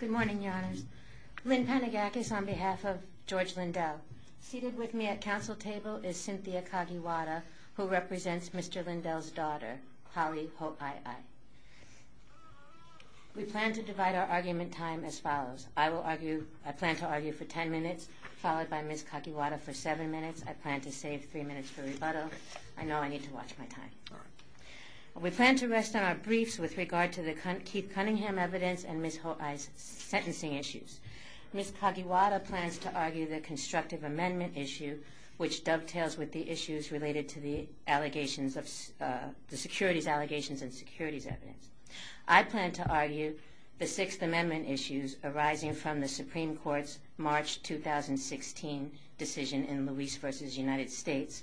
Good morning, your honors. Lynn Panagakos on behalf of George Lindell. Seated with me at council table is Cynthia Kakiwata, who represents Mr. Lindell's daughter, Holly Ho'i'i. We plan to divide our argument time as follows. I plan to argue for ten minutes, followed by Ms. Kakiwata for seven minutes. I plan to save three minutes for rebuttal. I know I need to watch my time. We plan to rest on our briefs with regard to the Keith Cunningham evidence and Ms. Ho'i'i's sentencing issues. Ms. Kakiwata plans to argue the constructive amendment issue, which dovetails with the issues related to the securities allegations and securities evidence. I plan to argue the Sixth Amendment issues arising from the Supreme Court's March 2016 decision in Luis v. United States,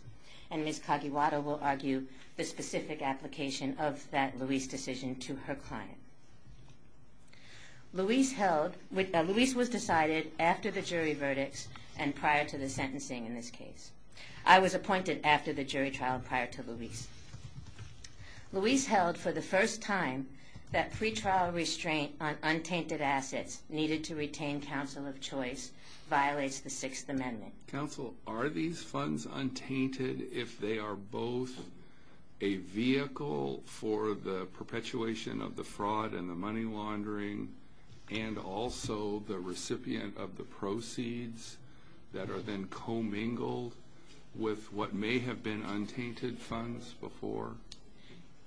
and Ms. Kakiwata will argue the specific application of that Luis decision to her client. Luis was decided after the jury verdicts and prior to the sentencing in this case. I was appointed after the jury trial prior to Luis. Luis held for the first time that pretrial restraint on untainted assets needed to retain counsel of choice violates the Sixth Amendment. Counsel, are these funds untainted if they are both a vehicle for the perpetuation of the fraud and the money laundering and also the recipient of the proceeds that are then commingled with what may have been untainted funds before?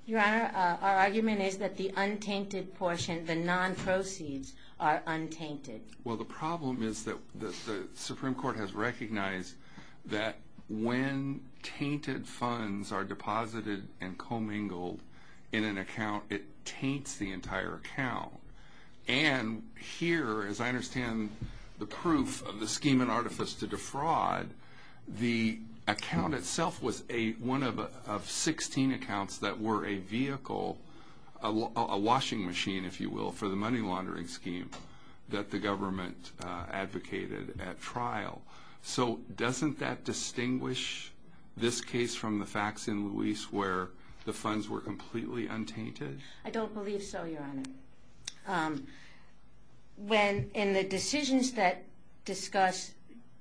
Your Honor, our argument is that the untainted portion, the non-proceeds, are untainted. Well, the problem is that the Supreme Court has recognized that when tainted funds are deposited and commingled in an account, it taints the entire account. And here, as I understand the proof of the scheme and artifice to defraud, the account itself was one of 16 accounts that were a vehicle, a washing machine, if you will, for the money laundering scheme that the government advocated at trial. So doesn't that distinguish this case from the facts in Luis where the funds were completely untainted? I don't believe so, Your Honor. In the decisions that discuss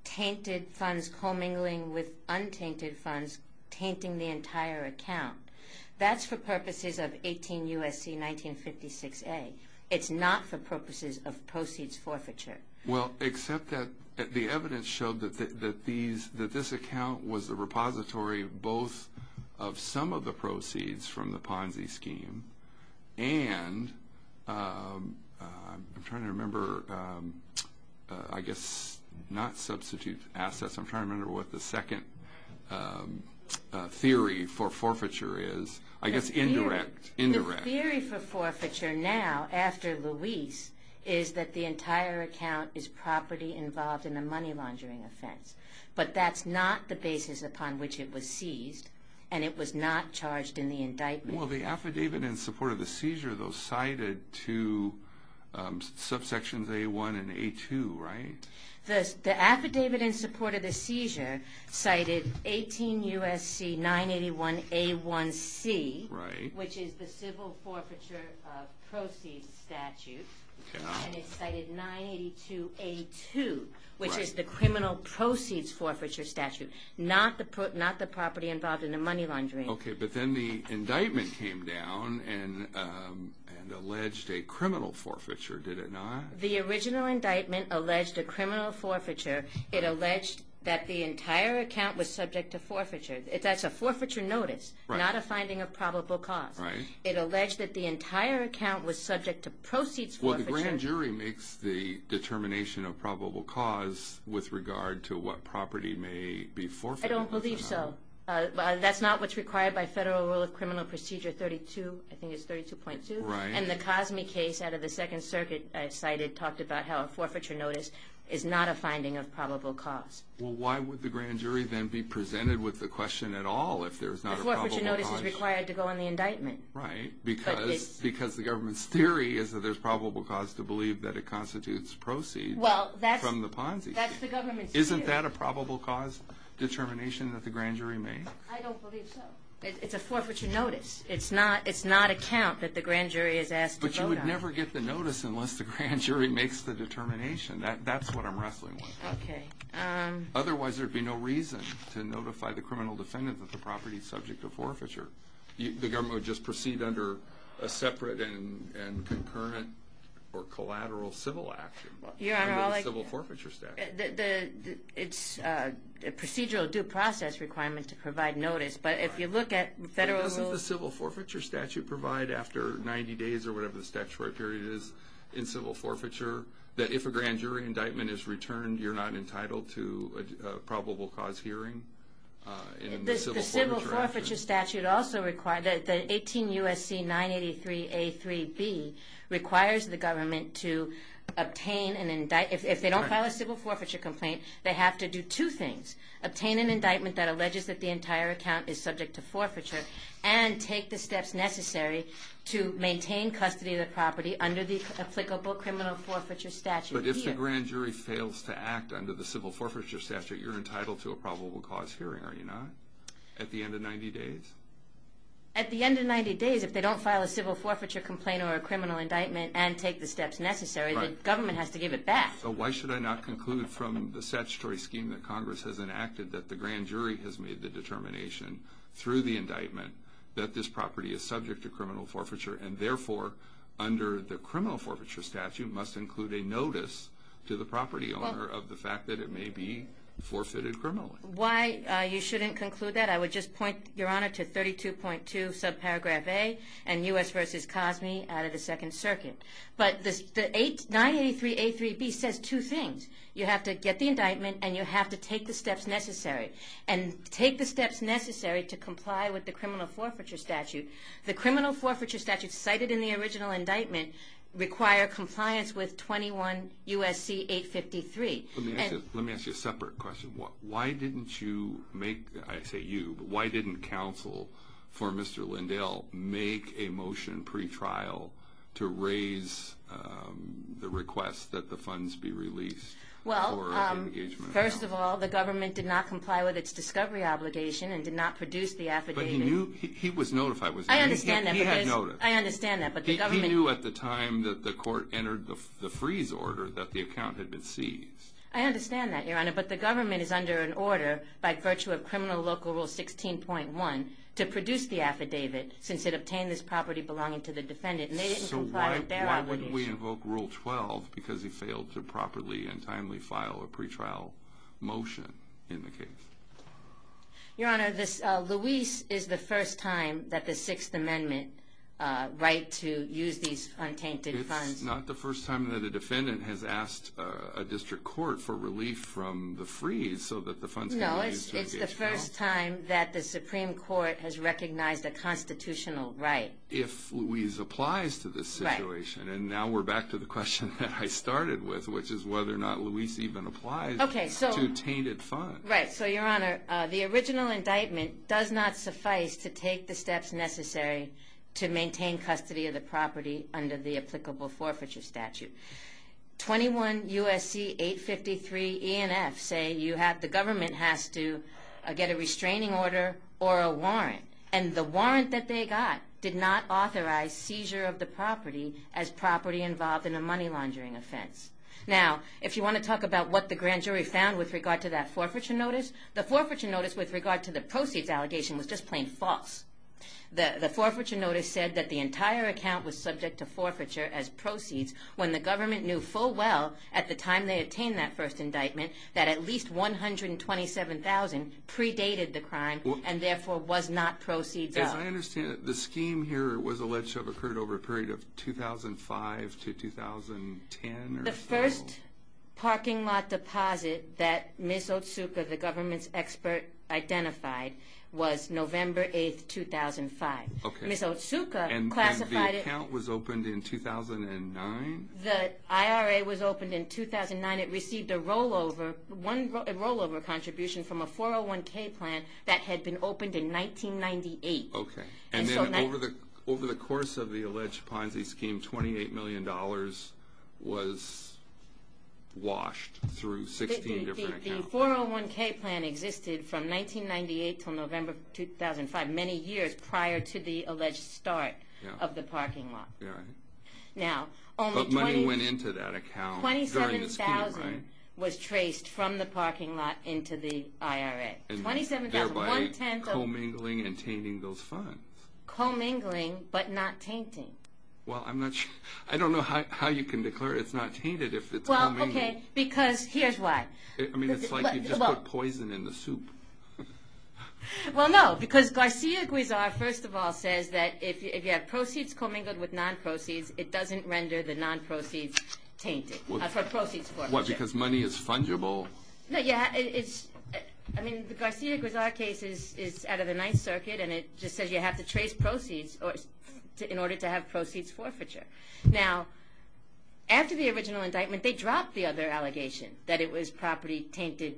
tainted funds commingling with untainted funds, tainting the entire account, that's for purposes of 18 U.S.C. 1956A. It's not for purposes of proceeds forfeiture. Well, except that the evidence showed that this account was the repository of both of some of the proceeds from the Ponzi scheme and I'm trying to remember, I guess not substitute assets. I'm trying to remember what the second theory for forfeiture is. I guess indirect. Indirect. The theory for forfeiture now after Luis is that the entire account is property involved in a money laundering offense. But that's not the basis upon which it was seized and it was not charged in the indictment. Well, the affidavit in support of the seizure, though, cited two subsections, A1 and A2, right? The affidavit in support of the seizure cited 18 U.S.C. 981A1C, which is the civil forfeiture of proceeds statute, and it cited 982A2, which is the criminal proceeds forfeiture statute, not the property involved in the money laundering. Okay, but then the indictment came down and alleged a criminal forfeiture, did it not? The original indictment alleged a criminal forfeiture. It alleged that the entire account was subject to forfeiture. That's a forfeiture notice, not a finding of probable cause. Right. It alleged that the entire account was subject to proceeds forfeiture. Well, the grand jury makes the determination of probable cause with regard to what property may be forfeited. I don't believe so. That's not what's required by Federal Rule of Criminal Procedure 32, I think it's 32.2. Right. And the Cosme case out of the Second Circuit cited talked about how a forfeiture notice is not a finding of probable cause. Well, why would the grand jury then be presented with the question at all if there's not a probable cause? The forfeiture notice is required to go on the indictment. Right, because the government's theory is that there's probable cause to believe that it constitutes proceeds from the Ponzi scheme. Well, that's the government's theory. Is that a probable cause determination that the grand jury makes? I don't believe so. It's a forfeiture notice. It's not a count that the grand jury is asked to vote on. But you would never get the notice unless the grand jury makes the determination. That's what I'm wrestling with. Okay. Otherwise, there would be no reason to notify the criminal defendant that the property is subject to forfeiture. The government would just proceed under a separate and concurrent or collateral civil action under the civil forfeiture statute. It's a procedural due process requirement to provide notice. But if you look at federal rules. Doesn't the civil forfeiture statute provide after 90 days or whatever the statutory period is in civil forfeiture that if a grand jury indictment is returned, you're not entitled to a probable cause hearing? The civil forfeiture statute also requires that the 18 U.S.C. 983A3B requires the government to obtain an indictment. If they don't file a civil forfeiture complaint, they have to do two things. Obtain an indictment that alleges that the entire account is subject to forfeiture and take the steps necessary to maintain custody of the property under the applicable criminal forfeiture statute. But if the grand jury fails to act under the civil forfeiture statute, you're entitled to a probable cause hearing, are you not? At the end of 90 days? At the end of 90 days, if they don't file a civil forfeiture complaint or a criminal indictment and take the steps necessary, the government has to give it back. So why should I not conclude from the statutory scheme that Congress has enacted that the grand jury has made the determination through the indictment that this property is subject to criminal forfeiture and therefore under the criminal forfeiture statute must include a notice to the property owner of the fact that it may be forfeited criminally? Why you shouldn't conclude that, I would just point, Your Honor, to 32.2 subparagraph A and U.S. v. Cosme out of the Second Circuit. But 983A3B says two things. You have to get the indictment and you have to take the steps necessary. And take the steps necessary to comply with the criminal forfeiture statute. The criminal forfeiture statute cited in the original indictment require compliance with 21 U.S.C. 853. Let me ask you a separate question. Why didn't you make, I say you, but why didn't counsel for Mr. Lindell make a motion pre-trial to raise the request that the funds be released for the engagement of the property? Well, first of all, the government did not comply with its discovery obligation and did not produce the affidavit. But he was notified. I understand that. He had noticed. I understand that. He knew at the time that the court entered the freeze order that the account had been seized. I understand that, Your Honor. But the government is under an order by virtue of Criminal Local Rule 16.1 to produce the affidavit since it obtained this property belonging to the defendant. And they didn't comply with their obligation. So why wouldn't we invoke Rule 12 because he failed to properly and timely file a pre-trial motion in the case? Your Honor, this, Luis is the first time that the Sixth Amendment right to use these untainted funds. It's not the first time that a defendant has asked a district court for relief from the freeze so that the funds can be used for engagement. No, it's the first time that the Supreme Court has recognized a constitutional right. If Luis applies to this situation. Right. And now we're back to the question that I started with, which is whether or not Luis even applies to tainted funds. Right. So, Your Honor, the original indictment does not suffice to take the steps necessary to maintain custody of the property under the applicable forfeiture statute. 21 U.S.C. 853 E and F say the government has to get a restraining order or a warrant. And the warrant that they got did not authorize seizure of the property as property involved in a money laundering offense. Now, if you want to talk about what the grand jury found with regard to that forfeiture notice, the forfeiture notice with regard to the proceeds allegation was just plain false. The forfeiture notice said that the entire account was subject to forfeiture as proceeds when the government knew full well at the time they obtained that first indictment that at least $127,000 predated the crime and therefore was not proceeds. As I understand it, the scheme here was alleged to have occurred over a period of 2005 to 2010 or so. The first parking lot deposit that Ms. Otsuka, the government's expert, identified was November 8, 2005. Ms. Otsuka classified it. And the account was opened in 2009? The IRA was opened in 2009. It received a rollover contribution from a 401K plan that had been opened in 1998. Okay. And then over the course of the alleged Ponzi scheme, $28 million was washed through 16 different accounts. The 401K plan existed from 1998 until November 2005, many years prior to the alleged start of the parking lot. But money went into that account during the scheme, right? $27,000 was traced from the parking lot into the IRA. Thereby commingling and tainting those funds. Commingling but not tainting. Well, I'm not sure. I don't know how you can declare it's not tainted if it's commingling. Well, okay, because here's why. I mean, it's like you just put poison in the soup. Well, no, because Garcia-Guizar, first of all, says that if you have proceeds commingled with non-proceeds, it doesn't render the non-proceeds tainted. What, because money is fungible? No, yeah, I mean, the Garcia-Guizar case is out of the Ninth Circuit, and it just says you have to trace proceeds in order to have proceeds forfeiture. Now, after the original indictment, they dropped the other allegation, that the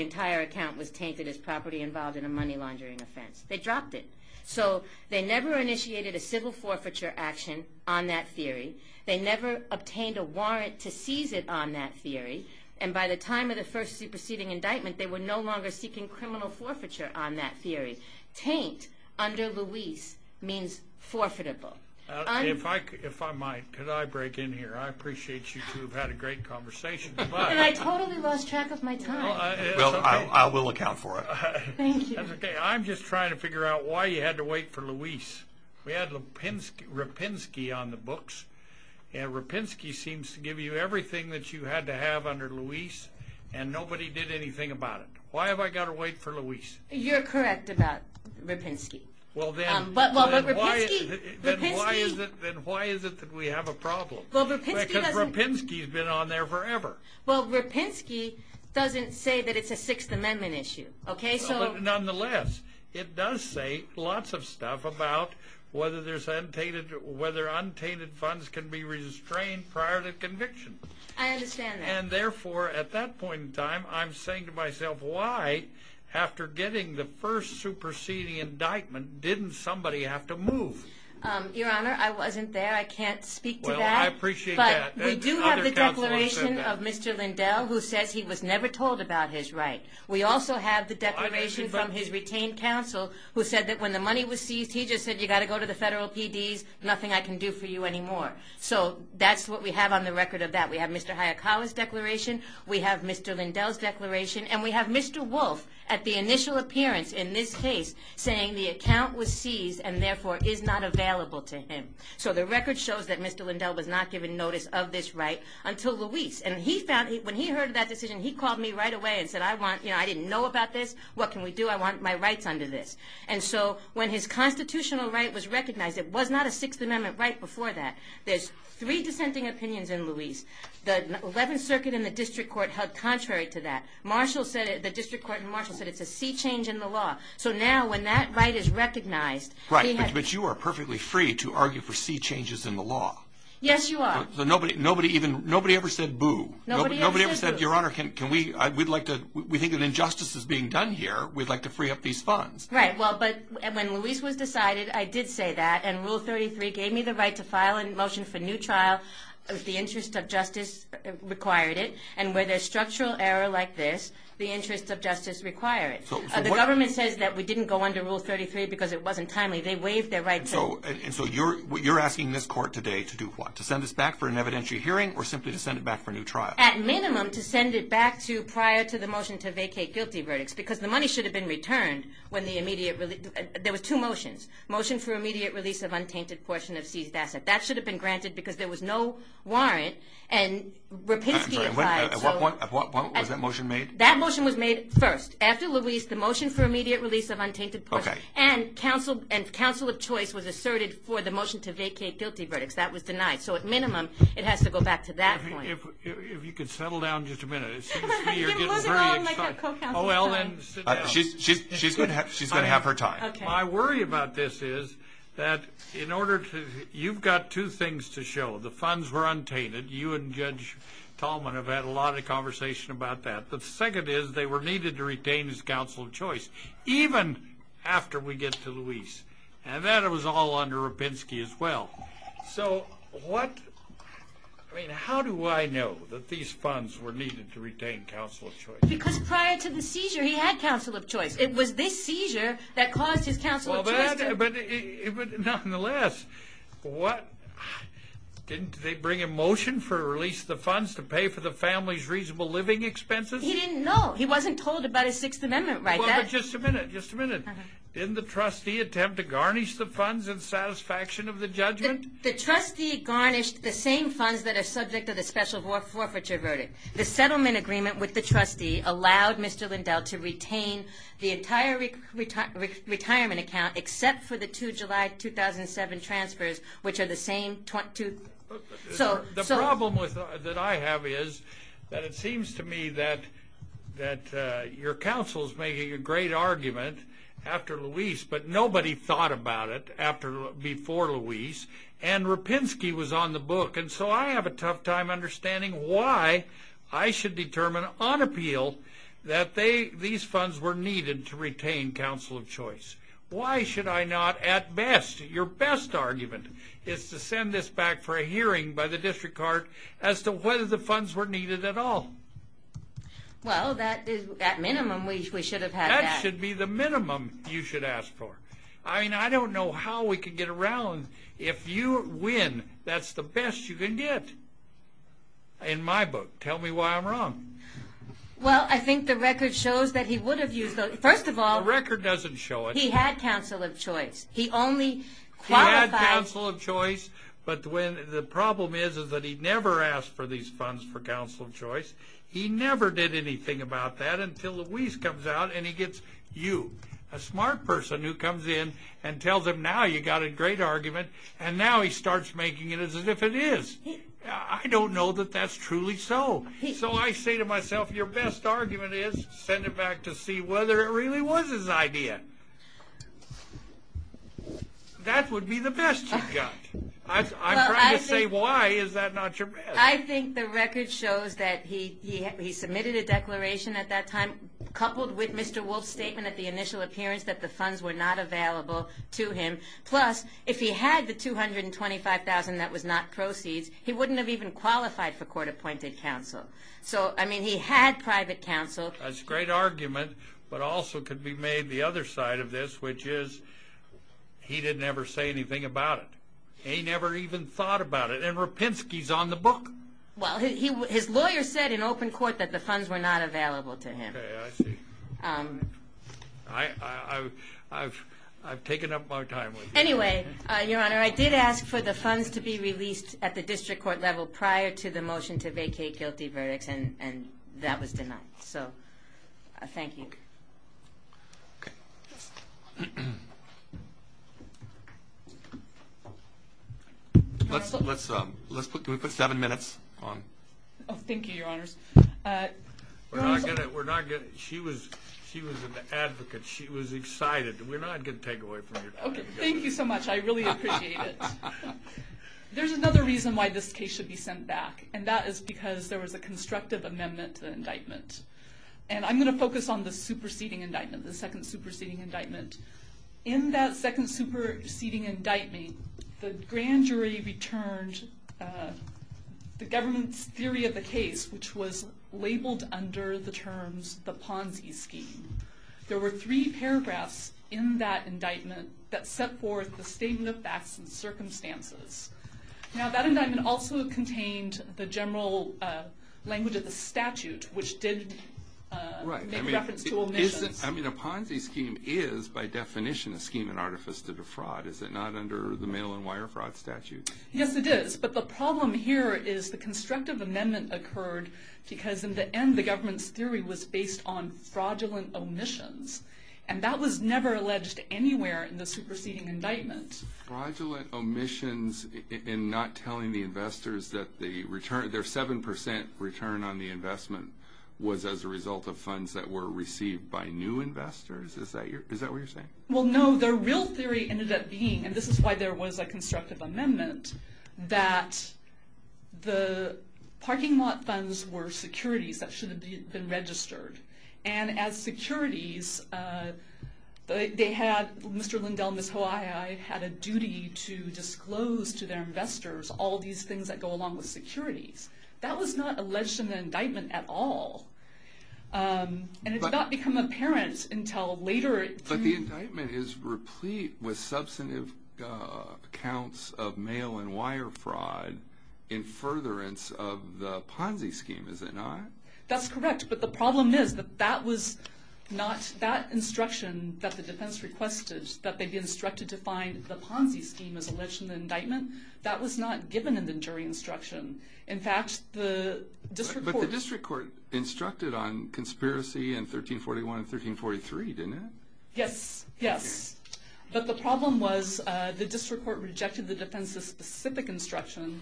entire account was tainted as property involved in a money laundering offense. They dropped it. So they never initiated a civil forfeiture action on that theory. They never obtained a warrant to seize it on that theory. And by the time of the first superseding indictment, they were no longer seeking criminal forfeiture on that theory. Taint under Luis means forfeitable. If I might, could I break in here? I appreciate you two have had a great conversation. And I totally lost track of my time. Well, I will account for it. Thank you. I'm just trying to figure out why you had to wait for Luis. We had Rapinski on the books, and Rapinski seems to give you everything that you had to have under Luis, and nobody did anything about it. Why have I got to wait for Luis? You're correct about Rapinski. But why is it that we have a problem? Because Rapinski has been on there forever. Well, Rapinski doesn't say that it's a Sixth Amendment issue. Nonetheless, it does say lots of stuff about whether untainted funds can be restrained prior to conviction. I understand that. And therefore, at that point in time, I'm saying to myself, why, after getting the first superseding indictment, didn't somebody have to move? Your Honor, I wasn't there. I can't speak to that. Well, I appreciate that. But we do have the declaration of Mr. Lindell, who says he was never told about his right. We also have the declaration from his retained counsel, who said that when the money was seized, he just said, you've got to go to the federal PDs, nothing I can do for you anymore. So that's what we have on the record of that. We have Mr. Hayakawa's declaration, we have Mr. Lindell's declaration, and we have Mr. Wolf at the initial appearance in this case saying the account was seized and therefore is not available to him. So the record shows that Mr. Lindell was not given notice of this right until Luis. And when he heard of that decision, he called me right away and said, I didn't know about this, what can we do? I want my rights under this. And so when his constitutional right was recognized, it was not a Sixth Amendment right before that. There's three dissenting opinions in Luis. The Eleventh Circuit and the District Court held contrary to that. The District Court and Marshall said it's a sea change in the law. So now when that right is recognized, Right, but you are perfectly free to argue for sea changes in the law. Yes, you are. Nobody ever said boo. Nobody ever said, Your Honor, we think that injustice is being done here. We'd like to free up these funds. Right, but when Luis was decided, I did say that. And Rule 33 gave me the right to file a motion for new trial if the interest of justice required it. And where there's structural error like this, the interest of justice requires it. The government says that we didn't go under Rule 33 because it wasn't timely. They waived their right to. And so you're asking this court today to do what? To send this back for an evidentiary hearing or simply to send it back for new trial? At minimum, to send it back to prior to the motion to vacate guilty verdicts because the money should have been returned when the immediate release. There were two motions. Motion for immediate release of untainted portion of seized asset. That should have been granted because there was no warrant. And Rapinski applied. At what point was that motion made? That motion was made first. After Luis, the motion for immediate release of untainted portion. Okay. And counsel of choice was asserted for the motion to vacate guilty verdicts. That was denied. So at minimum, it has to go back to that point. If you could settle down just a minute. It seems to me you're getting very excited. Oh, well, then sit down. She's going to have her time. My worry about this is that you've got two things to show. The funds were untainted. You and Judge Tallman have had a lot of conversation about that. But the second is they were needed to retain as counsel of choice, even after we get to Luis. And that was all under Rapinski as well. So how do I know that these funds were needed to retain counsel of choice? Because prior to the seizure, he had counsel of choice. It was this seizure that caused his counsel of choice. reasonable living expenses? He didn't know. He wasn't told about his Sixth Amendment right. Well, but just a minute, just a minute. Didn't the trustee attempt to garnish the funds in satisfaction of the judgment? The trustee garnished the same funds that are subject to the special forfeiture verdict. The settlement agreement with the trustee allowed Mr. Lindell to retain the entire retirement account except for the two July 2007 transfers, which are the same two. The problem that I have is that it seems to me that your counsel is making a great argument after Luis, but nobody thought about it before Luis, and Rapinski was on the book. And so I have a tough time understanding why I should determine on appeal that these funds were needed to retain counsel of choice. Why should I not at best? Your best argument is to send this back for a hearing by the district court as to whether the funds were needed at all. Well, at minimum, we should have had that. That should be the minimum you should ask for. I mean, I don't know how we could get around. If you win, that's the best you can get in my book. Tell me why I'm wrong. Well, I think the record shows that he would have used those. First of all, he had counsel of choice. He only qualified. He had counsel of choice, but the problem is that he never asked for these funds for counsel of choice. He never did anything about that until Luis comes out and he gets you, a smart person who comes in and tells him, now you got a great argument, and now he starts making it as if it is. I don't know that that's truly so. So I say to myself, your best argument is send it back to see whether it really was his idea. That would be the best you've got. I'm trying to say why is that not your best? I think the record shows that he submitted a declaration at that time, coupled with Mr. Wolf's statement at the initial appearance that the funds were not available to him. Plus, if he had the $225,000 that was not proceeds, he wouldn't have even qualified for court-appointed counsel. So, I mean, he had private counsel. That's a great argument, but also could be made the other side of this, which is he didn't ever say anything about it. He never even thought about it, and Rapinski's on the book. Well, his lawyer said in open court that the funds were not available to him. Okay, I see. I've taken up my time with you. Anyway, your Honor, I did ask for the funds to be released at the district court level prior to the motion to vacate guilty verdicts, and that was denied. So, thank you. Let's put seven minutes on. Oh, thank you, your Honors. She was an advocate. She was excited. We're not going to take away from your time. Thank you so much. I really appreciate it. There's another reason why this case should be sent back, and that is because there was a constructive amendment to the indictment. And I'm going to focus on the superseding indictment, the second superseding indictment. In that second superseding indictment, the grand jury returned the government's theory of the case, which was labeled under the terms the Ponzi scheme. There were three paragraphs in that indictment that set forth the statement of facts and circumstances. Now, that indictment also contained the general language of the statute, which did make reference to omissions. I mean, a Ponzi scheme is, by definition, a scheme and artifice to defraud. Is it not under the mail-and-wire fraud statute? Yes, it is. But the problem here is the constructive amendment occurred because, in the end, the government's theory was based on fraudulent omissions, and that was never alleged anywhere in the superseding indictment. Fraudulent omissions in not telling the investors that their 7% return on the investment was as a result of funds that were received by new investors? Is that what you're saying? Well, no. The real theory ended up being, and this is why there was a constructive amendment, that the parking lot funds were securities that shouldn't have been registered. And as securities, they had Mr. Lindell and Ms. Hawaii had a duty to disclose to their investors all these things that go along with securities. That was not alleged in the indictment at all. And it's not become apparent until later. But the indictment is replete with substantive counts of mail-and-wire fraud in furtherance of the Ponzi scheme, is it not? That's correct. But the problem is that that instruction that the defense requested, that they'd be instructed to find the Ponzi scheme as alleged in the indictment, that was not given in the jury instruction. In fact, the district court... But the district court instructed on conspiracy in 1341 and 1343, didn't it? Yes, yes. But the problem was the district court rejected the defense's specific instruction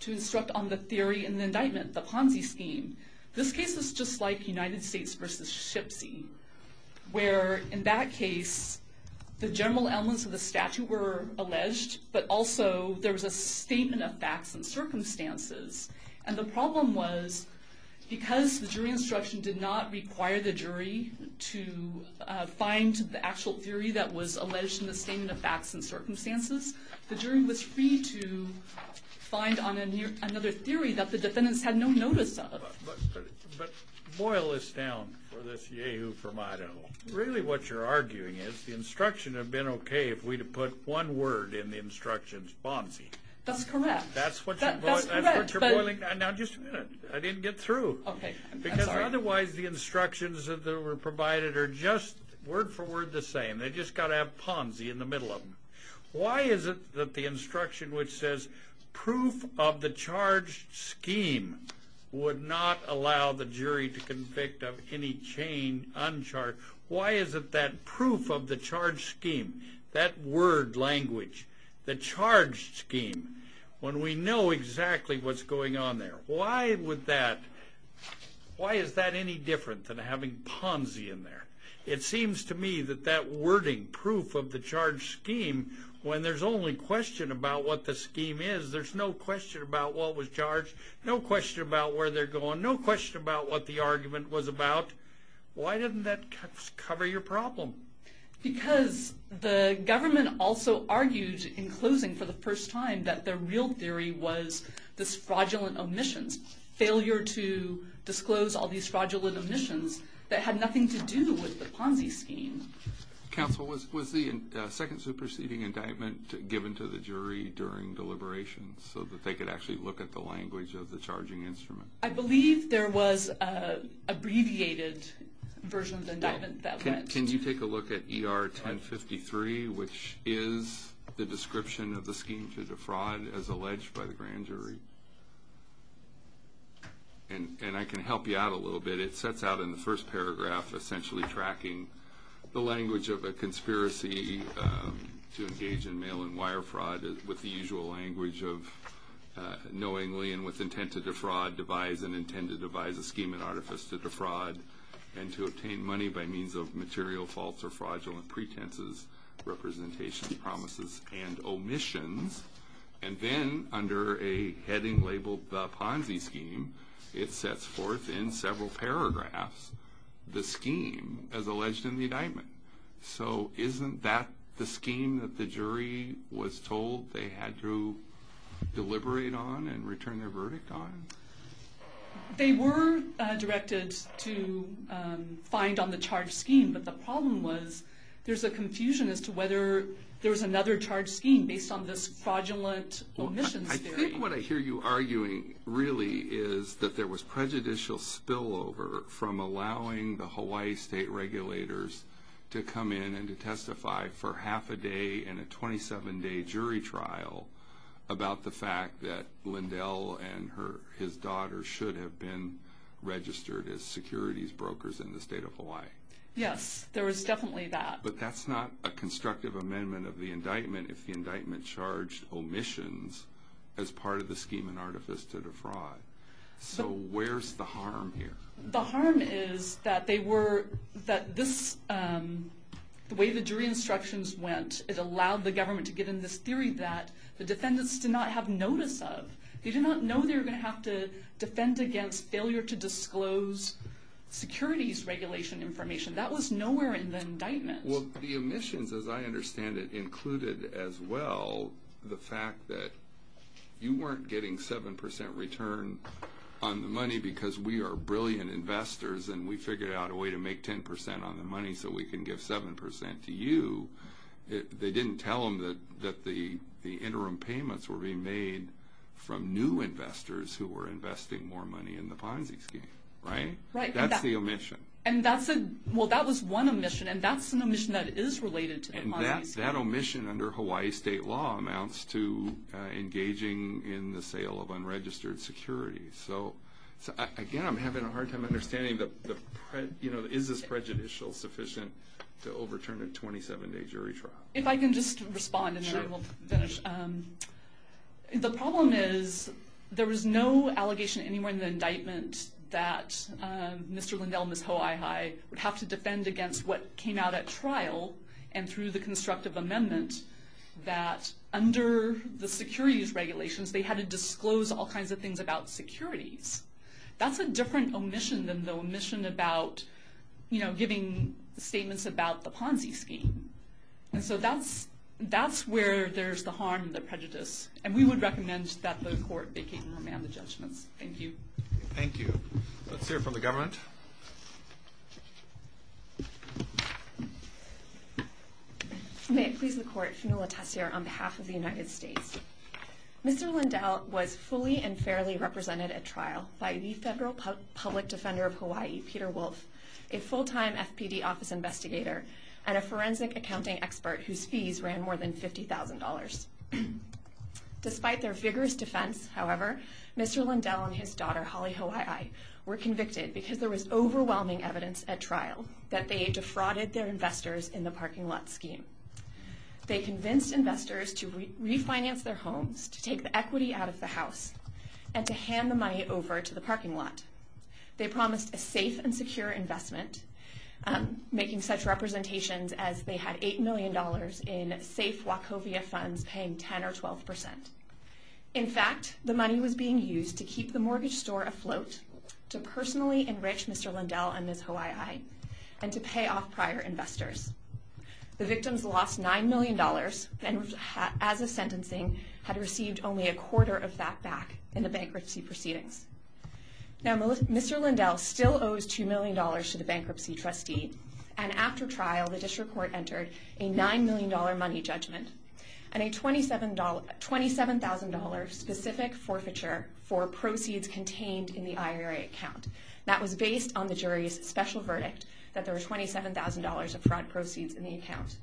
to instruct on the theory in the indictment, the Ponzi scheme. This case is just like United States v. Shipsy, where in that case the general elements of the statute were alleged, but also there was a statement of facts and circumstances. And the problem was because the jury instruction did not require the jury to find the actual theory that was alleged in the statement of facts and circumstances, the jury was free to find on another theory that the defendants had no notice of. But boil this down for this yea-hoo from Idaho. Really what you're arguing is the instruction would have been okay if we'd have put one word in the instructions, Ponzi. That's correct. That's what you're boiling down. Now, just a minute. I didn't get through. Okay. I'm sorry. Because otherwise the instructions that were provided are just word for word the same. They've just got to have Ponzi in the middle of them. Why is it that the instruction which says proof of the charged scheme would not allow the jury to convict of any chain uncharged? Why is it that proof of the charged scheme, that word language, the charged scheme, when we know exactly what's going on there, why is that any different than having Ponzi in there? It seems to me that that wording, proof of the charged scheme, when there's only question about what the scheme is, there's no question about what was charged, no question about where they're going, no question about what the argument was about. Why doesn't that cover your problem? Because the government also argued in closing for the first time that their real theory was this fraudulent omissions, failure to disclose all these fraudulent omissions that had nothing to do with the Ponzi scheme. Counsel, was the second superseding indictment given to the jury during deliberations so that they could actually look at the language of the charging instrument? I believe there was an abbreviated version of the indictment. Can you take a look at ER 1053, which is the description of the scheme to defraud as alleged by the grand jury? And I can help you out a little bit. It sets out in the first paragraph essentially tracking the language of a conspiracy to engage in mail and wire fraud with the usual language of knowingly and with intent to defraud, devise and intend to devise a scheme and artifice to defraud and to obtain money by means of material faults or fraudulent pretenses, representations, promises, and omissions. And then under a heading labeled the Ponzi scheme, it sets forth in several paragraphs the scheme as alleged in the indictment. So isn't that the scheme that the jury was told they had to deliberate on and return their verdict on? They were directed to find on the charge scheme, but the problem was there's a confusion as to whether there was another charge scheme based on this fraudulent omissions theory. I think what I hear you arguing really is that there was prejudicial spillover from allowing the Hawaii state regulators to come in and to testify for half a day and a 27-day jury trial about the fact that Lindell and his daughter should have been registered as securities brokers in the state of Hawaii. Yes, there was definitely that. But that's not a constructive amendment of the indictment if the indictment charged omissions as part of the scheme and artifice to defraud. So where's the harm here? The harm is that the way the jury instructions went, it allowed the government to get in this theory that the defendants did not have notice of. They did not know they were going to have to defend against failure to disclose securities regulation information. That was nowhere in the indictment. Well, the omissions, as I understand it, included as well the fact that you weren't getting 7% return on the money because we are brilliant investors and we figured out a way to make 10% on the money so we can give 7% to you. They didn't tell them that the interim payments were being made from new investors who were investing more money in the Ponzi scheme, right? Right. That's the omission. Well, that was one omission, and that's an omission that is related to the Ponzi scheme. And that omission under Hawaii state law amounts to engaging in the sale of unregistered securities. So, again, I'm having a hard time understanding, you know, is this prejudicial sufficient to overturn a 27-day jury trial? If I can just respond and then we'll finish. The problem is there was no allegation anywhere in the indictment that Mr. Lindell and Ms. Hoaihai would have to defend against what came out at trial and through the constructive amendment that under the securities regulations they had to disclose all kinds of things about securities. That's a different omission than the omission about, you know, giving statements about the Ponzi scheme. And so that's where there's the harm and the prejudice. And we would recommend that the court vacate and remand the judgments. Thank you. Thank you. Let's hear from the government. May it please the court. Fionnuala Tessier on behalf of the United States. Mr. Lindell was fully and fairly represented at trial by the federal public defender of Hawaii, Peter Wolf, a full-time FPD office investigator and a forensic accounting expert whose fees ran more than $50,000. Despite their vigorous defense, however, Mr. Lindell and his daughter, Holly Hoaihai, were convicted because there was overwhelming evidence at trial that they defrauded their investors in the parking lot scheme. They convinced investors to refinance their homes, to take the equity out of the house, and to hand the money over to the parking lot. They promised a safe and secure investment, making such representations as they had $8 million in safe Wachovia funds paying 10% or 12%. In fact, the money was being used to keep the mortgage store afloat, to personally enrich Mr. Lindell and Ms. Hoaihai, and to pay off prior investors. The victims lost $9 million and, as of sentencing, had received only a quarter of that back in the bankruptcy proceedings. Now, Mr. Lindell still owes $2 million to the bankruptcy trustee, and after trial, the district court entered a $9 million money judgment and a $27,000 specific forfeiture for proceeds contained in the IRA account. That was based on the jury's special verdict that there were $27,000 of fraud proceeds in the account.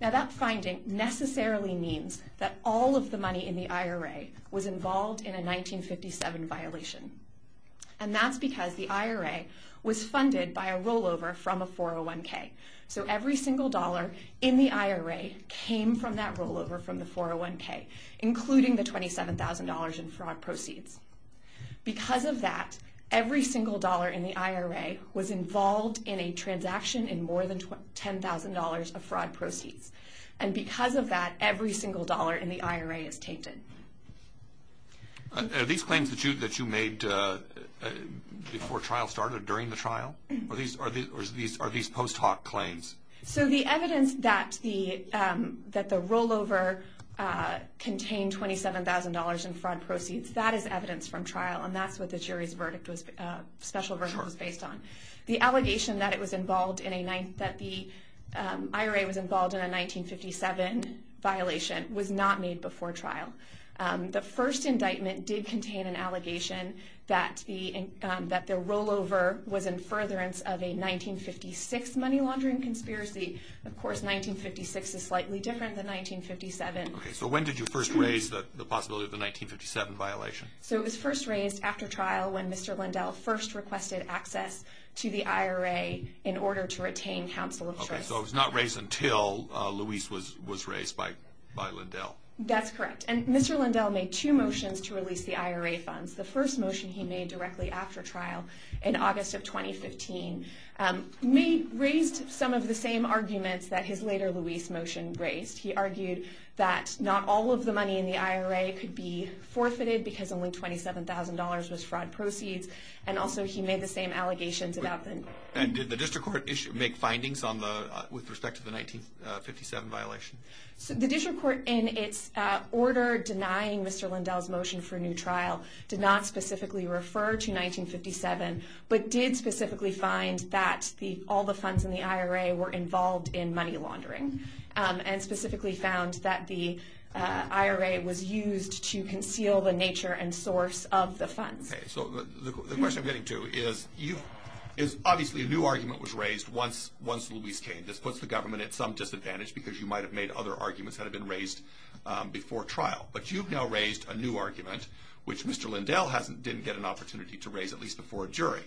Now, that finding necessarily means that all of the money in the IRA was involved in a 1957 violation, and that's because the IRA was funded by a rollover from a 401k. So every single dollar in the IRA came from that rollover from the 401k, including the $27,000 in fraud proceeds. Because of that, every single dollar in the IRA was involved in a transaction in more than $10,000 of fraud proceeds, and because of that, every single dollar in the IRA is tainted. Are these claims that you made before trial started, during the trial? Or are these post hoc claims? So the evidence that the rollover contained $27,000 in fraud proceeds, that is evidence from trial, and that's what the jury's special verdict was based on. The allegation that the IRA was involved in a 1957 violation was not made before trial. The first indictment did contain an allegation that the rollover was in furtherance of a 1956 money laundering conspiracy. Of course, 1956 is slightly different than 1957. Okay, so when did you first raise the possibility of the 1957 violation? So it was first raised after trial when Mr. Lindell first requested access to the IRA in order to retain counsel of trust. Okay, so it was not raised until Luis was raised by Lindell. That's correct. And Mr. Lindell made two motions to release the IRA funds. The first motion he made directly after trial in August of 2015 raised some of the same arguments that his later Luis motion raised. He argued that not all of the money in the IRA could be forfeited because only $27,000 was fraud proceeds, and also he made the same allegations about the... And did the district court make findings with respect to the 1957 violation? The district court, in its order denying Mr. Lindell's motion for new trial, did not specifically refer to 1957, but did specifically find that all the funds in the IRA were involved in money laundering and specifically found that the IRA was used to conceal the nature and source of the funds. Okay, so the question I'm getting to is, obviously a new argument was raised once Luis came. This puts the government at some disadvantage because you might have made other arguments that had been raised before trial. But you've now raised a new argument, which Mr. Lindell didn't get an opportunity to raise at least before a jury.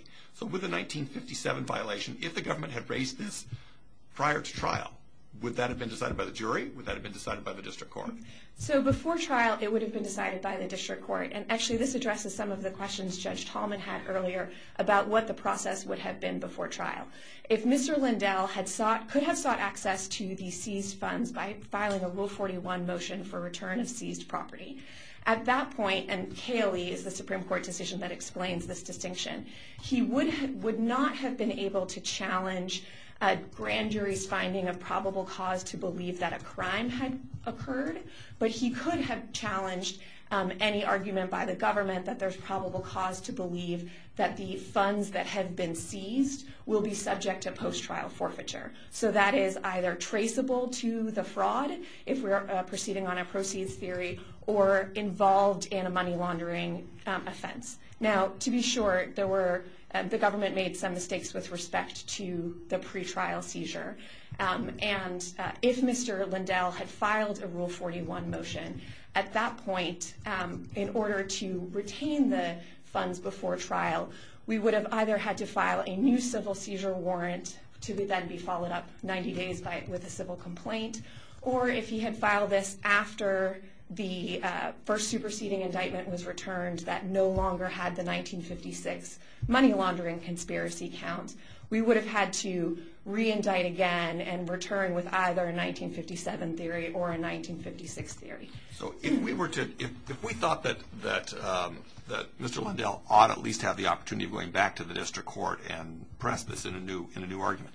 Would that have been decided by the jury? Would that have been decided by the district court? So before trial, it would have been decided by the district court. And actually, this addresses some of the questions Judge Tallman had earlier about what the process would have been before trial. If Mr. Lindell could have sought access to the seized funds by filing a Rule 41 motion for return of seized property, at that point, and Cayley is the Supreme Court decision that explains this distinction, he would not have been able to challenge a grand jury's finding of probable cause to believe that a crime had occurred. But he could have challenged any argument by the government that there's probable cause to believe that the funds that have been seized will be subject to post-trial forfeiture. So that is either traceable to the fraud, if we are proceeding on a proceeds theory, or involved in a money laundering offense. Now, to be sure, the government made some mistakes with respect to the pretrial seizure. And if Mr. Lindell had filed a Rule 41 motion, at that point, in order to retain the funds before trial, we would have either had to file a new civil seizure warrant to then be followed up 90 days with a civil complaint, or if he had filed this after the first superseding indictment was returned that no longer had the 1956 money laundering conspiracy count, we would have had to re-indict again and return with either a 1957 theory or a 1956 theory. So if we thought that Mr. Lindell ought at least have the opportunity of going back to the district court and press this in a new argument,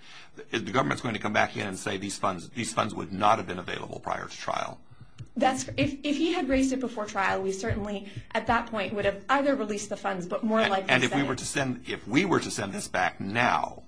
is the government going to come back in and say these funds would not have been available prior to trial? If he had raised it before trial, we certainly, at that point, would have either released the funds, but more likely sent it. And if we were to send this back now?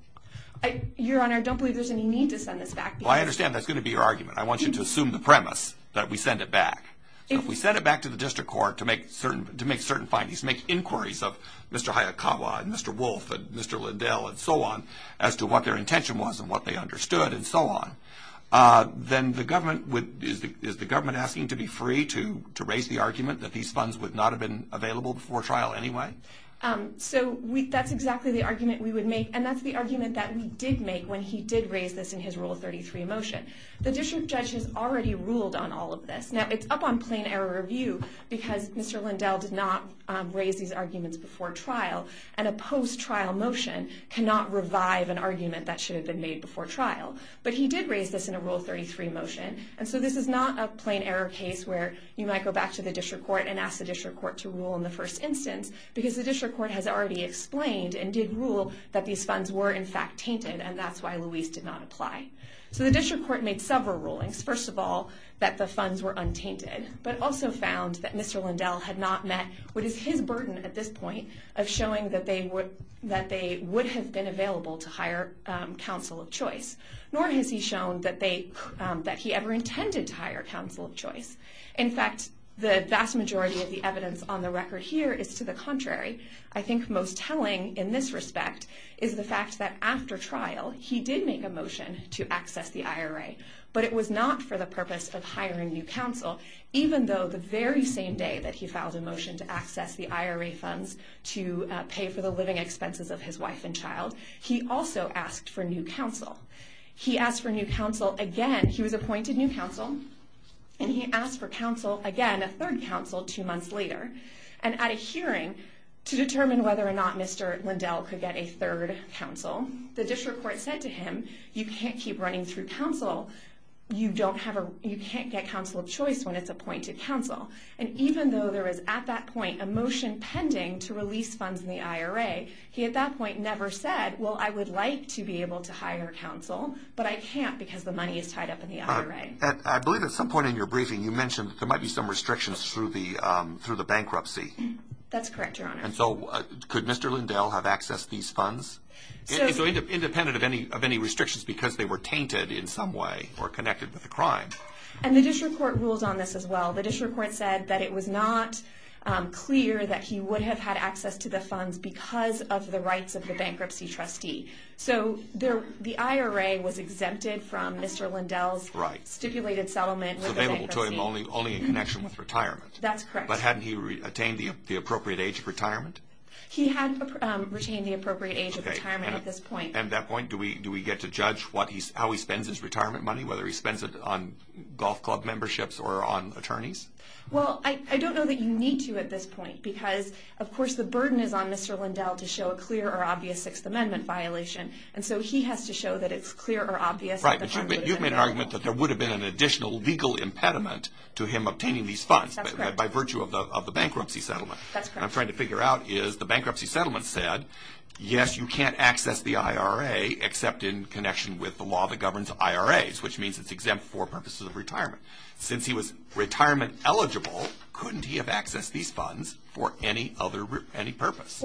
Your Honor, I don't believe there's any need to send this back. Well, I understand that's going to be your argument. I want you to assume the premise that we send it back. If we send it back to the district court to make certain findings, make inquiries of Mr. Hayakawa and Mr. Wolf and Mr. Lindell and so on, as to what their intention was and what they understood and so on, then is the government asking to be free to raise the argument that these funds would not have been available before trial anyway? So that's exactly the argument we would make, and that's the argument that we did make when he did raise this in his Rule 33 motion. The district judge has already ruled on all of this. Now, it's up on plain error review because Mr. Lindell did not raise these arguments before trial, and a post-trial motion cannot revive an argument that should have been made before trial. But he did raise this in a Rule 33 motion, and so this is not a plain error case where you might go back to the district court and ask the district court to rule in the first instance because the district court has already explained and did rule that these funds were, in fact, tainted, and that's why Louise did not apply. So the district court made several rulings. First of all, that the funds were untainted, but also found that Mr. Lindell had not met what is his burden at this point of showing that they would have been available to hire counsel of choice. Nor has he shown that he ever intended to hire counsel of choice. In fact, the vast majority of the evidence on the record here is to the contrary. I think most telling in this respect is the fact that after trial, he did make a motion to access the IRA, but it was not for the purpose of hiring new counsel, even though the very same day that he filed a motion to access the IRA funds to pay for the living expenses of his wife and child, he also asked for new counsel. He asked for new counsel again. He was appointed new counsel, and he asked for counsel again, a third counsel, two months later. And at a hearing to determine whether or not Mr. Lindell could get a third counsel, the district court said to him, you can't keep running through counsel. You can't get counsel of choice when it's appointed counsel. And even though there was at that point a motion pending to release funds in the IRA, he at that point never said, well, I would like to be able to hire counsel, but I can't because the money is tied up in the IRA. I believe at some point in your briefing you mentioned there might be some restrictions through the bankruptcy. That's correct, Your Honor. And so could Mr. Lindell have accessed these funds? So independent of any restrictions because they were tainted in some way or connected with the crime. And the district court ruled on this as well. The district court said that it was not clear that he would have had access to the funds because of the rights of the bankruptcy trustee. So the IRA was exempted from Mr. Lindell's stipulated settlement. It was available to him only in connection with retirement. That's correct. But hadn't he attained the appropriate age of retirement? He had retained the appropriate age of retirement at this point. At that point, do we get to judge how he spends his retirement money, whether he spends it on golf club memberships or on attorneys? Well, I don't know that you need to at this point because, of course, the burden is on Mr. Lindell to show a clear or obvious Sixth Amendment violation. And so he has to show that it's clear or obvious that the fund would have been available. Right, but you've made an argument that there would have been an additional legal impediment to him obtaining these funds by virtue of the bankruptcy settlement. That's correct. What I'm trying to figure out is the bankruptcy settlement said, yes, you can't access the IRA except in connection with the law that governs IRAs, which means it's exempt for purposes of retirement. Since he was retirement eligible, couldn't he have accessed these funds for any purpose?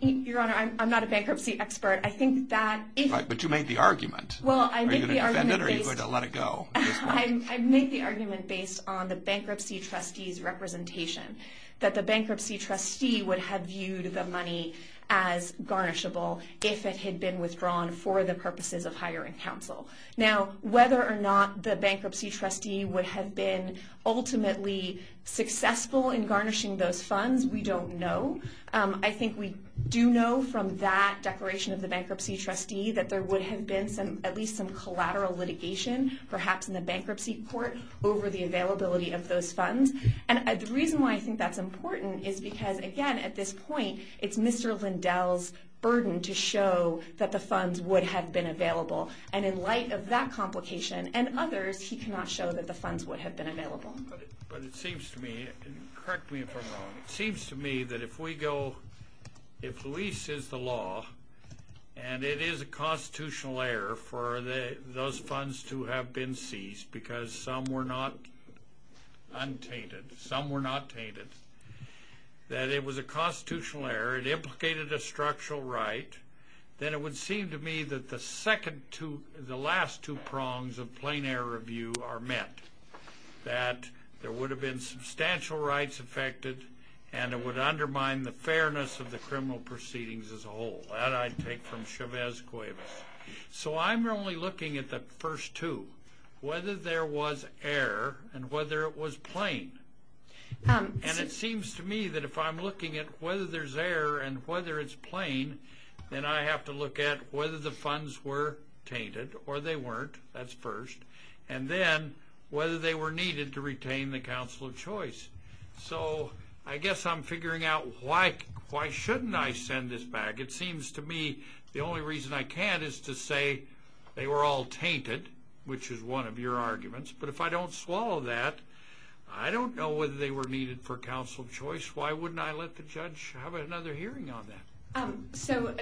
Your Honor, I'm not a bankruptcy expert. But you made the argument. Are you going to defend it or are you going to let it go? I made the argument based on the bankruptcy trustee's representation, that the bankruptcy trustee would have viewed the money as garnishable if it had been withdrawn for the purposes of hiring counsel. Now, whether or not the bankruptcy trustee would have been ultimately successful in garnishing those funds, we don't know. I think we do know from that declaration of the bankruptcy trustee that there would have been at least some collateral litigation, perhaps in the bankruptcy court, over the availability of those funds. And the reason why I think that's important is because, again, at this point, it's Mr. Lindell's burden to show that the funds would have been available. And in light of that complication and others, he cannot show that the funds would have been available. But it seems to me, and correct me if I'm wrong, it seems to me that if we go, if lease is the law, and it is a constitutional error for those funds to have been seized because some were not untainted, some were not tainted, that it was a constitutional error, it implicated a structural right, then it would seem to me that the last two prongs of plain error review are met, that there would have been substantial rights affected and it would undermine the fairness of the criminal proceedings as a whole. That I take from Chavez Cuevas. So I'm only looking at the first two, whether there was error and whether it was plain. And it seems to me that if I'm looking at whether there's error and whether it's plain, then I have to look at whether the funds were tainted or they weren't, that's first, and then whether they were needed to retain the counsel of choice. So I guess I'm figuring out why shouldn't I send this back. It seems to me the only reason I can is to say they were all tainted, which is one of your arguments, but if I don't swallow that, I don't know whether they were needed for counsel of choice. Why wouldn't I let the judge have another hearing on that? So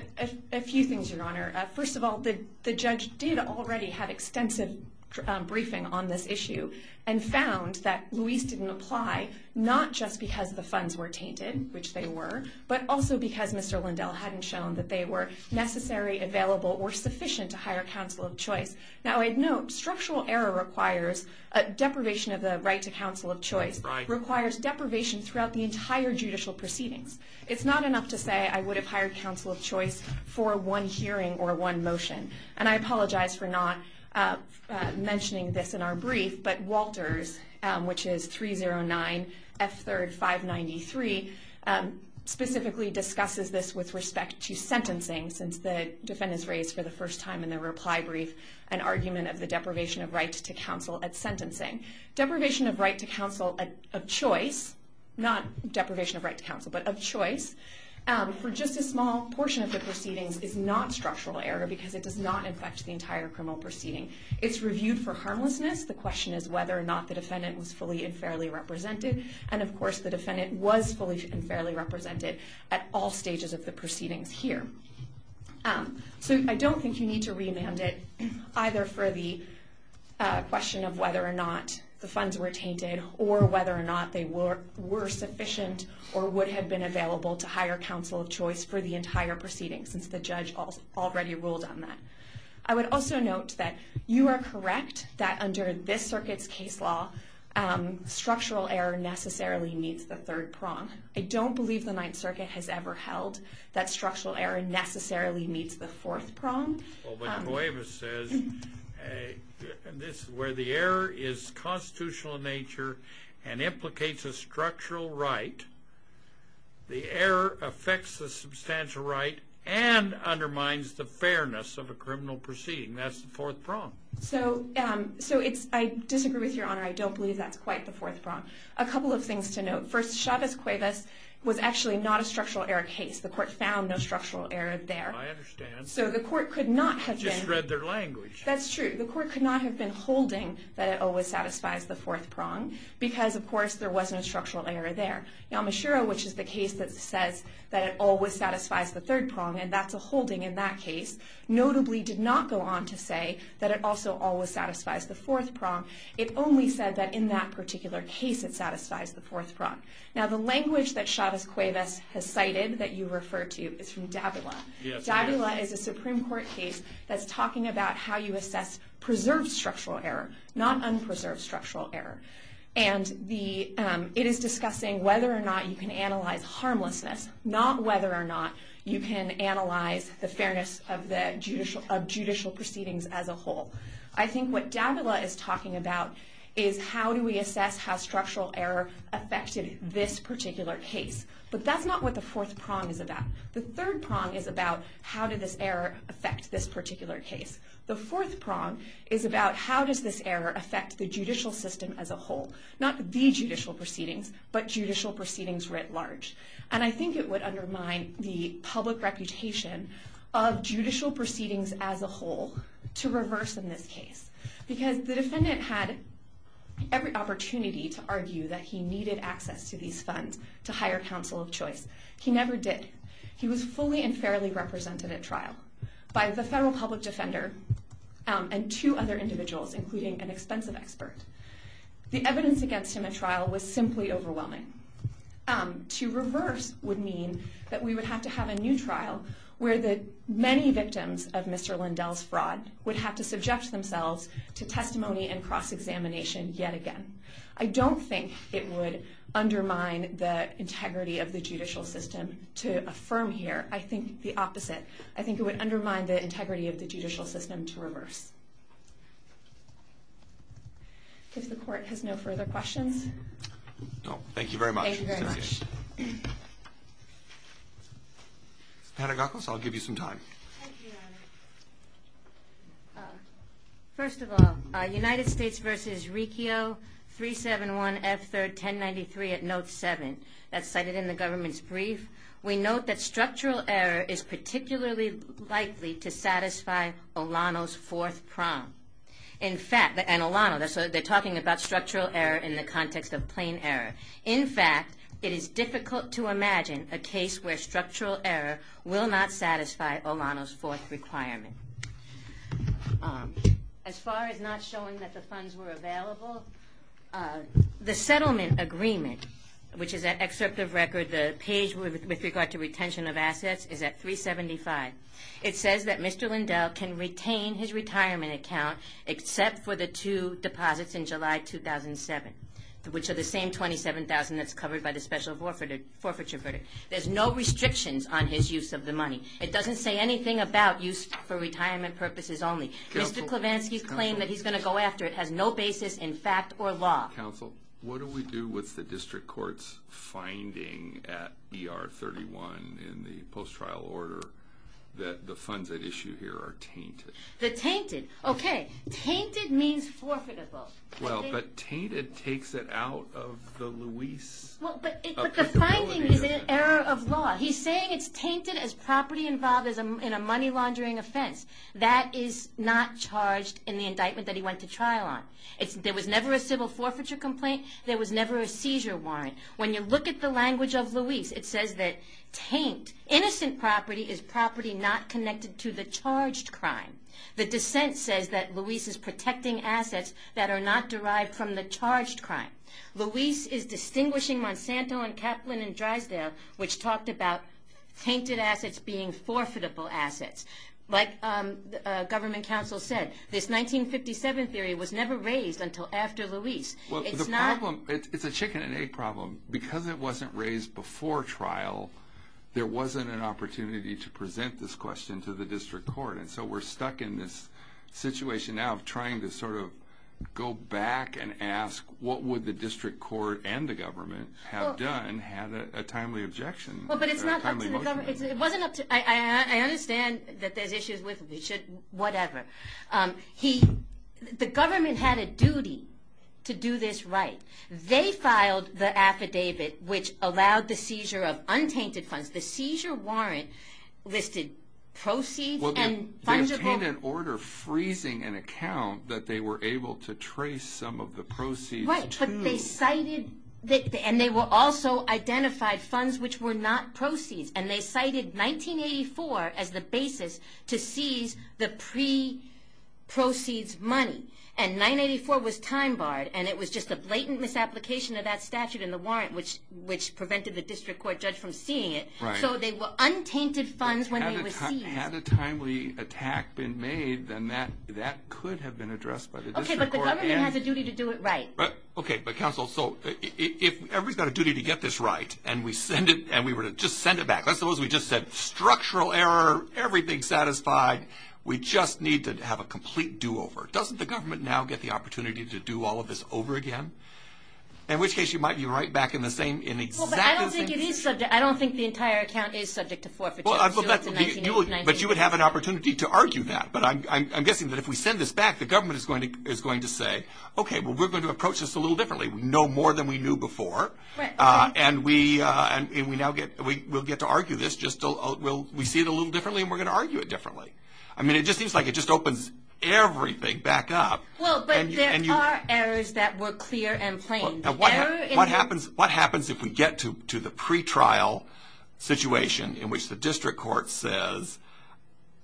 a few things, Your Honor. First of all, the judge did already have extensive briefing on this issue and found that Luis didn't apply, not just because the funds were tainted, which they were, but also because Mr. Lindell hadn't shown that they were necessary, available, or sufficient to hire counsel of choice. Now I'd note structural error requires deprivation of the right to counsel of choice, requires deprivation throughout the entire judicial proceedings. It's not enough to say I would have hired counsel of choice for one hearing or one motion. And I apologize for not mentioning this in our brief, but Walters, which is 309 F3rd 593, specifically discusses this with respect to sentencing, since the defendant's raised for the first time in the reply brief an argument of the deprivation of right to counsel at sentencing. Deprivation of right to counsel of choice, not deprivation of right to counsel, but of choice, for just a small portion of the proceedings is not structural error because it does not affect the entire criminal proceeding. It's reviewed for harmlessness. The question is whether or not the defendant was fully and fairly represented. And of course, the defendant was fully and fairly represented at all stages of the proceedings here. So I don't think you need to remand it, either for the question of whether or not the funds were tainted or whether or not they were sufficient or would have been available to hire counsel of choice for the entire proceedings, since the judge already ruled on that. I would also note that you are correct that under this circuit's case law, structural error necessarily meets the third prong. I don't believe the Ninth Circuit has ever held that structural error necessarily meets the fourth prong. Well, but Cuevas says where the error is constitutional in nature and implicates a structural right, the error affects the substantial right and undermines the fairness of a criminal proceeding. That's the fourth prong. So I disagree with Your Honor. I don't believe that's quite the fourth prong. A couple of things to note. First, Chavez-Cuevas was actually not a structural error case. The court found no structural error there. I understand. So the court could not have been... I just read their language. That's true. The court could not have been holding that it always satisfies the fourth prong because, of course, there wasn't a structural error there. Yamashiro, which is the case that says that it always satisfies the third prong, and that's a holding in that case, notably did not go on to say that it also always satisfies the fourth prong. It only said that in that particular case it satisfies the fourth prong. Now, the language that Chavez-Cuevas has cited that you refer to is from Davila. Davila is a Supreme Court case that's talking about how you assess preserved structural error, not unpreserved structural error. And it is discussing whether or not you can analyze harmlessness, not whether or not you can analyze the fairness of judicial proceedings as a whole. I think what Davila is talking about is how do we assess how structural error affected this particular case. But that's not what the fourth prong is about. The third prong is about how did this error affect this particular case. The fourth prong is about how does this error affect the judicial system as a whole, not the judicial proceedings, but judicial proceedings writ large. And I think it would undermine the public reputation of judicial proceedings as a whole to reverse in this case. Because the defendant had every opportunity to argue that he needed access to these funds to hire counsel of choice. He never did. He was fully and fairly represented at trial by the federal public defender and two other individuals, including an expensive expert. The evidence against him at trial was simply overwhelming. To reverse would mean that we would have to have a new trial where the many victims of Mr. Lindell's fraud would have to subject themselves to testimony and cross-examination yet again. I don't think it would undermine the integrity of the judicial system to affirm here. I think the opposite. I think it would undermine the integrity of the judicial system to reverse. If the court has no further questions. Thank you very much. Thank you very much. Ms. Panagakos, I'll give you some time. Thank you, Your Honor. First of all, United States v. Riccio, 371 F. 3rd, 1093 at note 7. That's cited in the government's brief. We note that structural error is particularly likely to satisfy Olano's fourth prong. In fact, and Olano, they're talking about structural error in the context of plain error. In fact, it is difficult to imagine a case where structural error will not satisfy Olano's fourth requirement. As far as not showing that the funds were available, the settlement agreement, which is an excerpt of record, the page with regard to retention of assets, is at 375. It says that Mr. Lindell can retain his retirement account except for the two deposits in July 2007, which are the same $27,000 that's covered by the special forfeiture verdict. There's no restrictions on his use of the money. It doesn't say anything about use for retirement purposes only. Mr. Klevansky's claim that he's going to go after it has no basis in fact or law. Counsel, what do we do with the district court's finding at ER 31 in the post-trial order that the funds at issue here are tainted? The tainted? Okay. Tainted means forfeitable. Well, but tainted takes it out of the Luis... Well, but the finding is an error of law. He's saying it's tainted as property involved in a money laundering offense. That is not charged in the indictment that he went to trial on. There was never a civil forfeiture complaint. When you look at the language of Luis, it says that taint, innocent property, is property not connected to the charged crime. The dissent says that Luis is protecting assets that are not derived from the charged crime. Luis is distinguishing Monsanto and Kaplan and Drysdale, which talked about tainted assets being forfeitable assets. Like government counsel said, this 1957 theory was never raised until after Luis. It's a chicken and egg problem. Because it wasn't raised before trial, there wasn't an opportunity to present this question to the district court. And so we're stuck in this situation now of trying to sort of go back and ask, what would the district court and the government have done, had a timely objection? Well, but it's not up to the government. It wasn't up to... I understand that there's issues with... whatever. The government had a duty to do this right. They filed the affidavit which allowed the seizure of untainted funds. The seizure warrant listed proceeds and funds... They obtained an order freezing an account that they were able to trace some of the proceeds to... Right, but they cited... and they also identified funds which were not proceeds. And they cited 1984 as the basis to seize the pre-proceeds money. And 1984 was time-barred, and it was just a blatant misapplication of that statute in the warrant, which prevented the district court judge from seeing it. So they were untainted funds when they were seized. Had a timely attack been made, then that could have been addressed by the district court. Okay, but the government has a duty to do it right. Okay, but counsel, so if everybody's got a duty to get this right, and we were to just send it back, let's suppose we just said, structural error, everything satisfied, we just need to have a complete do-over. Doesn't the government now get the opportunity to do all of this over again? In which case you might be right back in the same... I don't think the entire account is subject to forfeiture. But you would have an opportunity to argue that. But I'm guessing that if we send this back, the government is going to say, okay, well we're going to approach this a little differently. We know more than we knew before, and we'll get to argue this. We see it a little differently, and we're going to argue it differently. I mean, it just seems like it just opens everything back up. Well, but there are errors that were clear and plain. What happens if we get to the pretrial situation in which the district court says,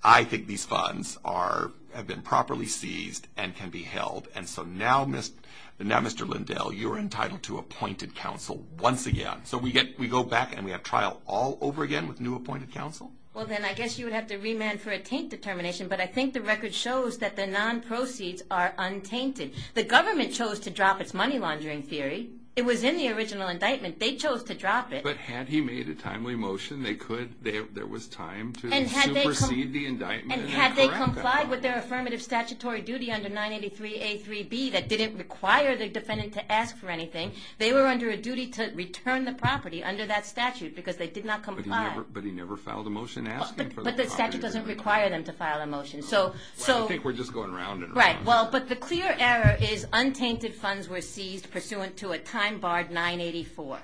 I think these funds have been properly seized and can be held, and so now, Mr. Lindell, you're entitled to appointed counsel once again. So we go back and we have trial all over again with new appointed counsel? Well, then I guess you would have to remand for a taint determination, but I think the record shows that the non-proceeds are untainted. The government chose to drop its money laundering theory. It was in the original indictment. They chose to drop it. But had he made a timely motion, there was time to supersede the indictment. And had they complied with their affirmative statutory duty under 983A3B that didn't require the defendant to ask for anything, they were under a duty to return the property under that statute because they did not comply. But he never filed a motion asking for the property? But the statute doesn't require them to file a motion. Well, I think we're just going round and round. Right. Well, but the clear error is untainted funds were seized pursuant to a time barred 984.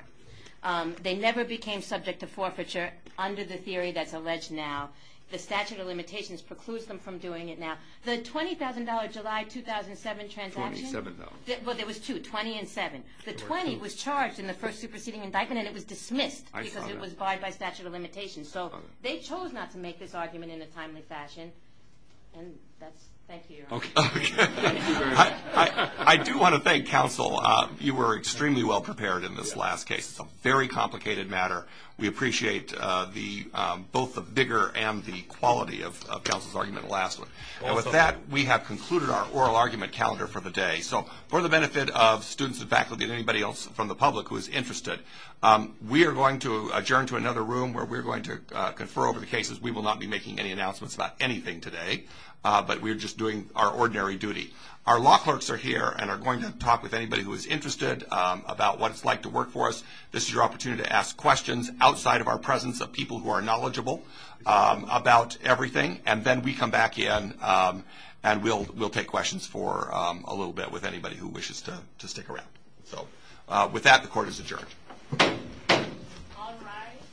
They never became subject to forfeiture under the theory that's alleged now. The statute of limitations precludes them from doing it now. The $20,000 July 2007 transaction? Twenty-seven, though. Well, there was two, 20 and seven. The 20 was charged in the first superseding indictment, and it was dismissed because it was barred by statute of limitations. So they chose not to make this argument in a timely fashion. And that's – thank you, Your Honor. Okay. I do want to thank counsel. You were extremely well prepared in this last case. It's a very complicated matter. We appreciate both the vigor and the quality of counsel's argument in the last one. And with that, we have concluded our oral argument calendar for the day. So for the benefit of students and faculty and anybody else from the public who is interested, we are going to adjourn to another room where we are going to confer over the cases. We will not be making any announcements about anything today, but we are just doing our ordinary duty. Our law clerks are here and are going to talk with anybody who is interested about what it's like to work for us. This is your opportunity to ask questions outside of our presence of people who are knowledgeable about everything. And then we come back in and we'll take questions for a little bit with anybody who wishes to stick around. So with that, the court is adjourned. All rise.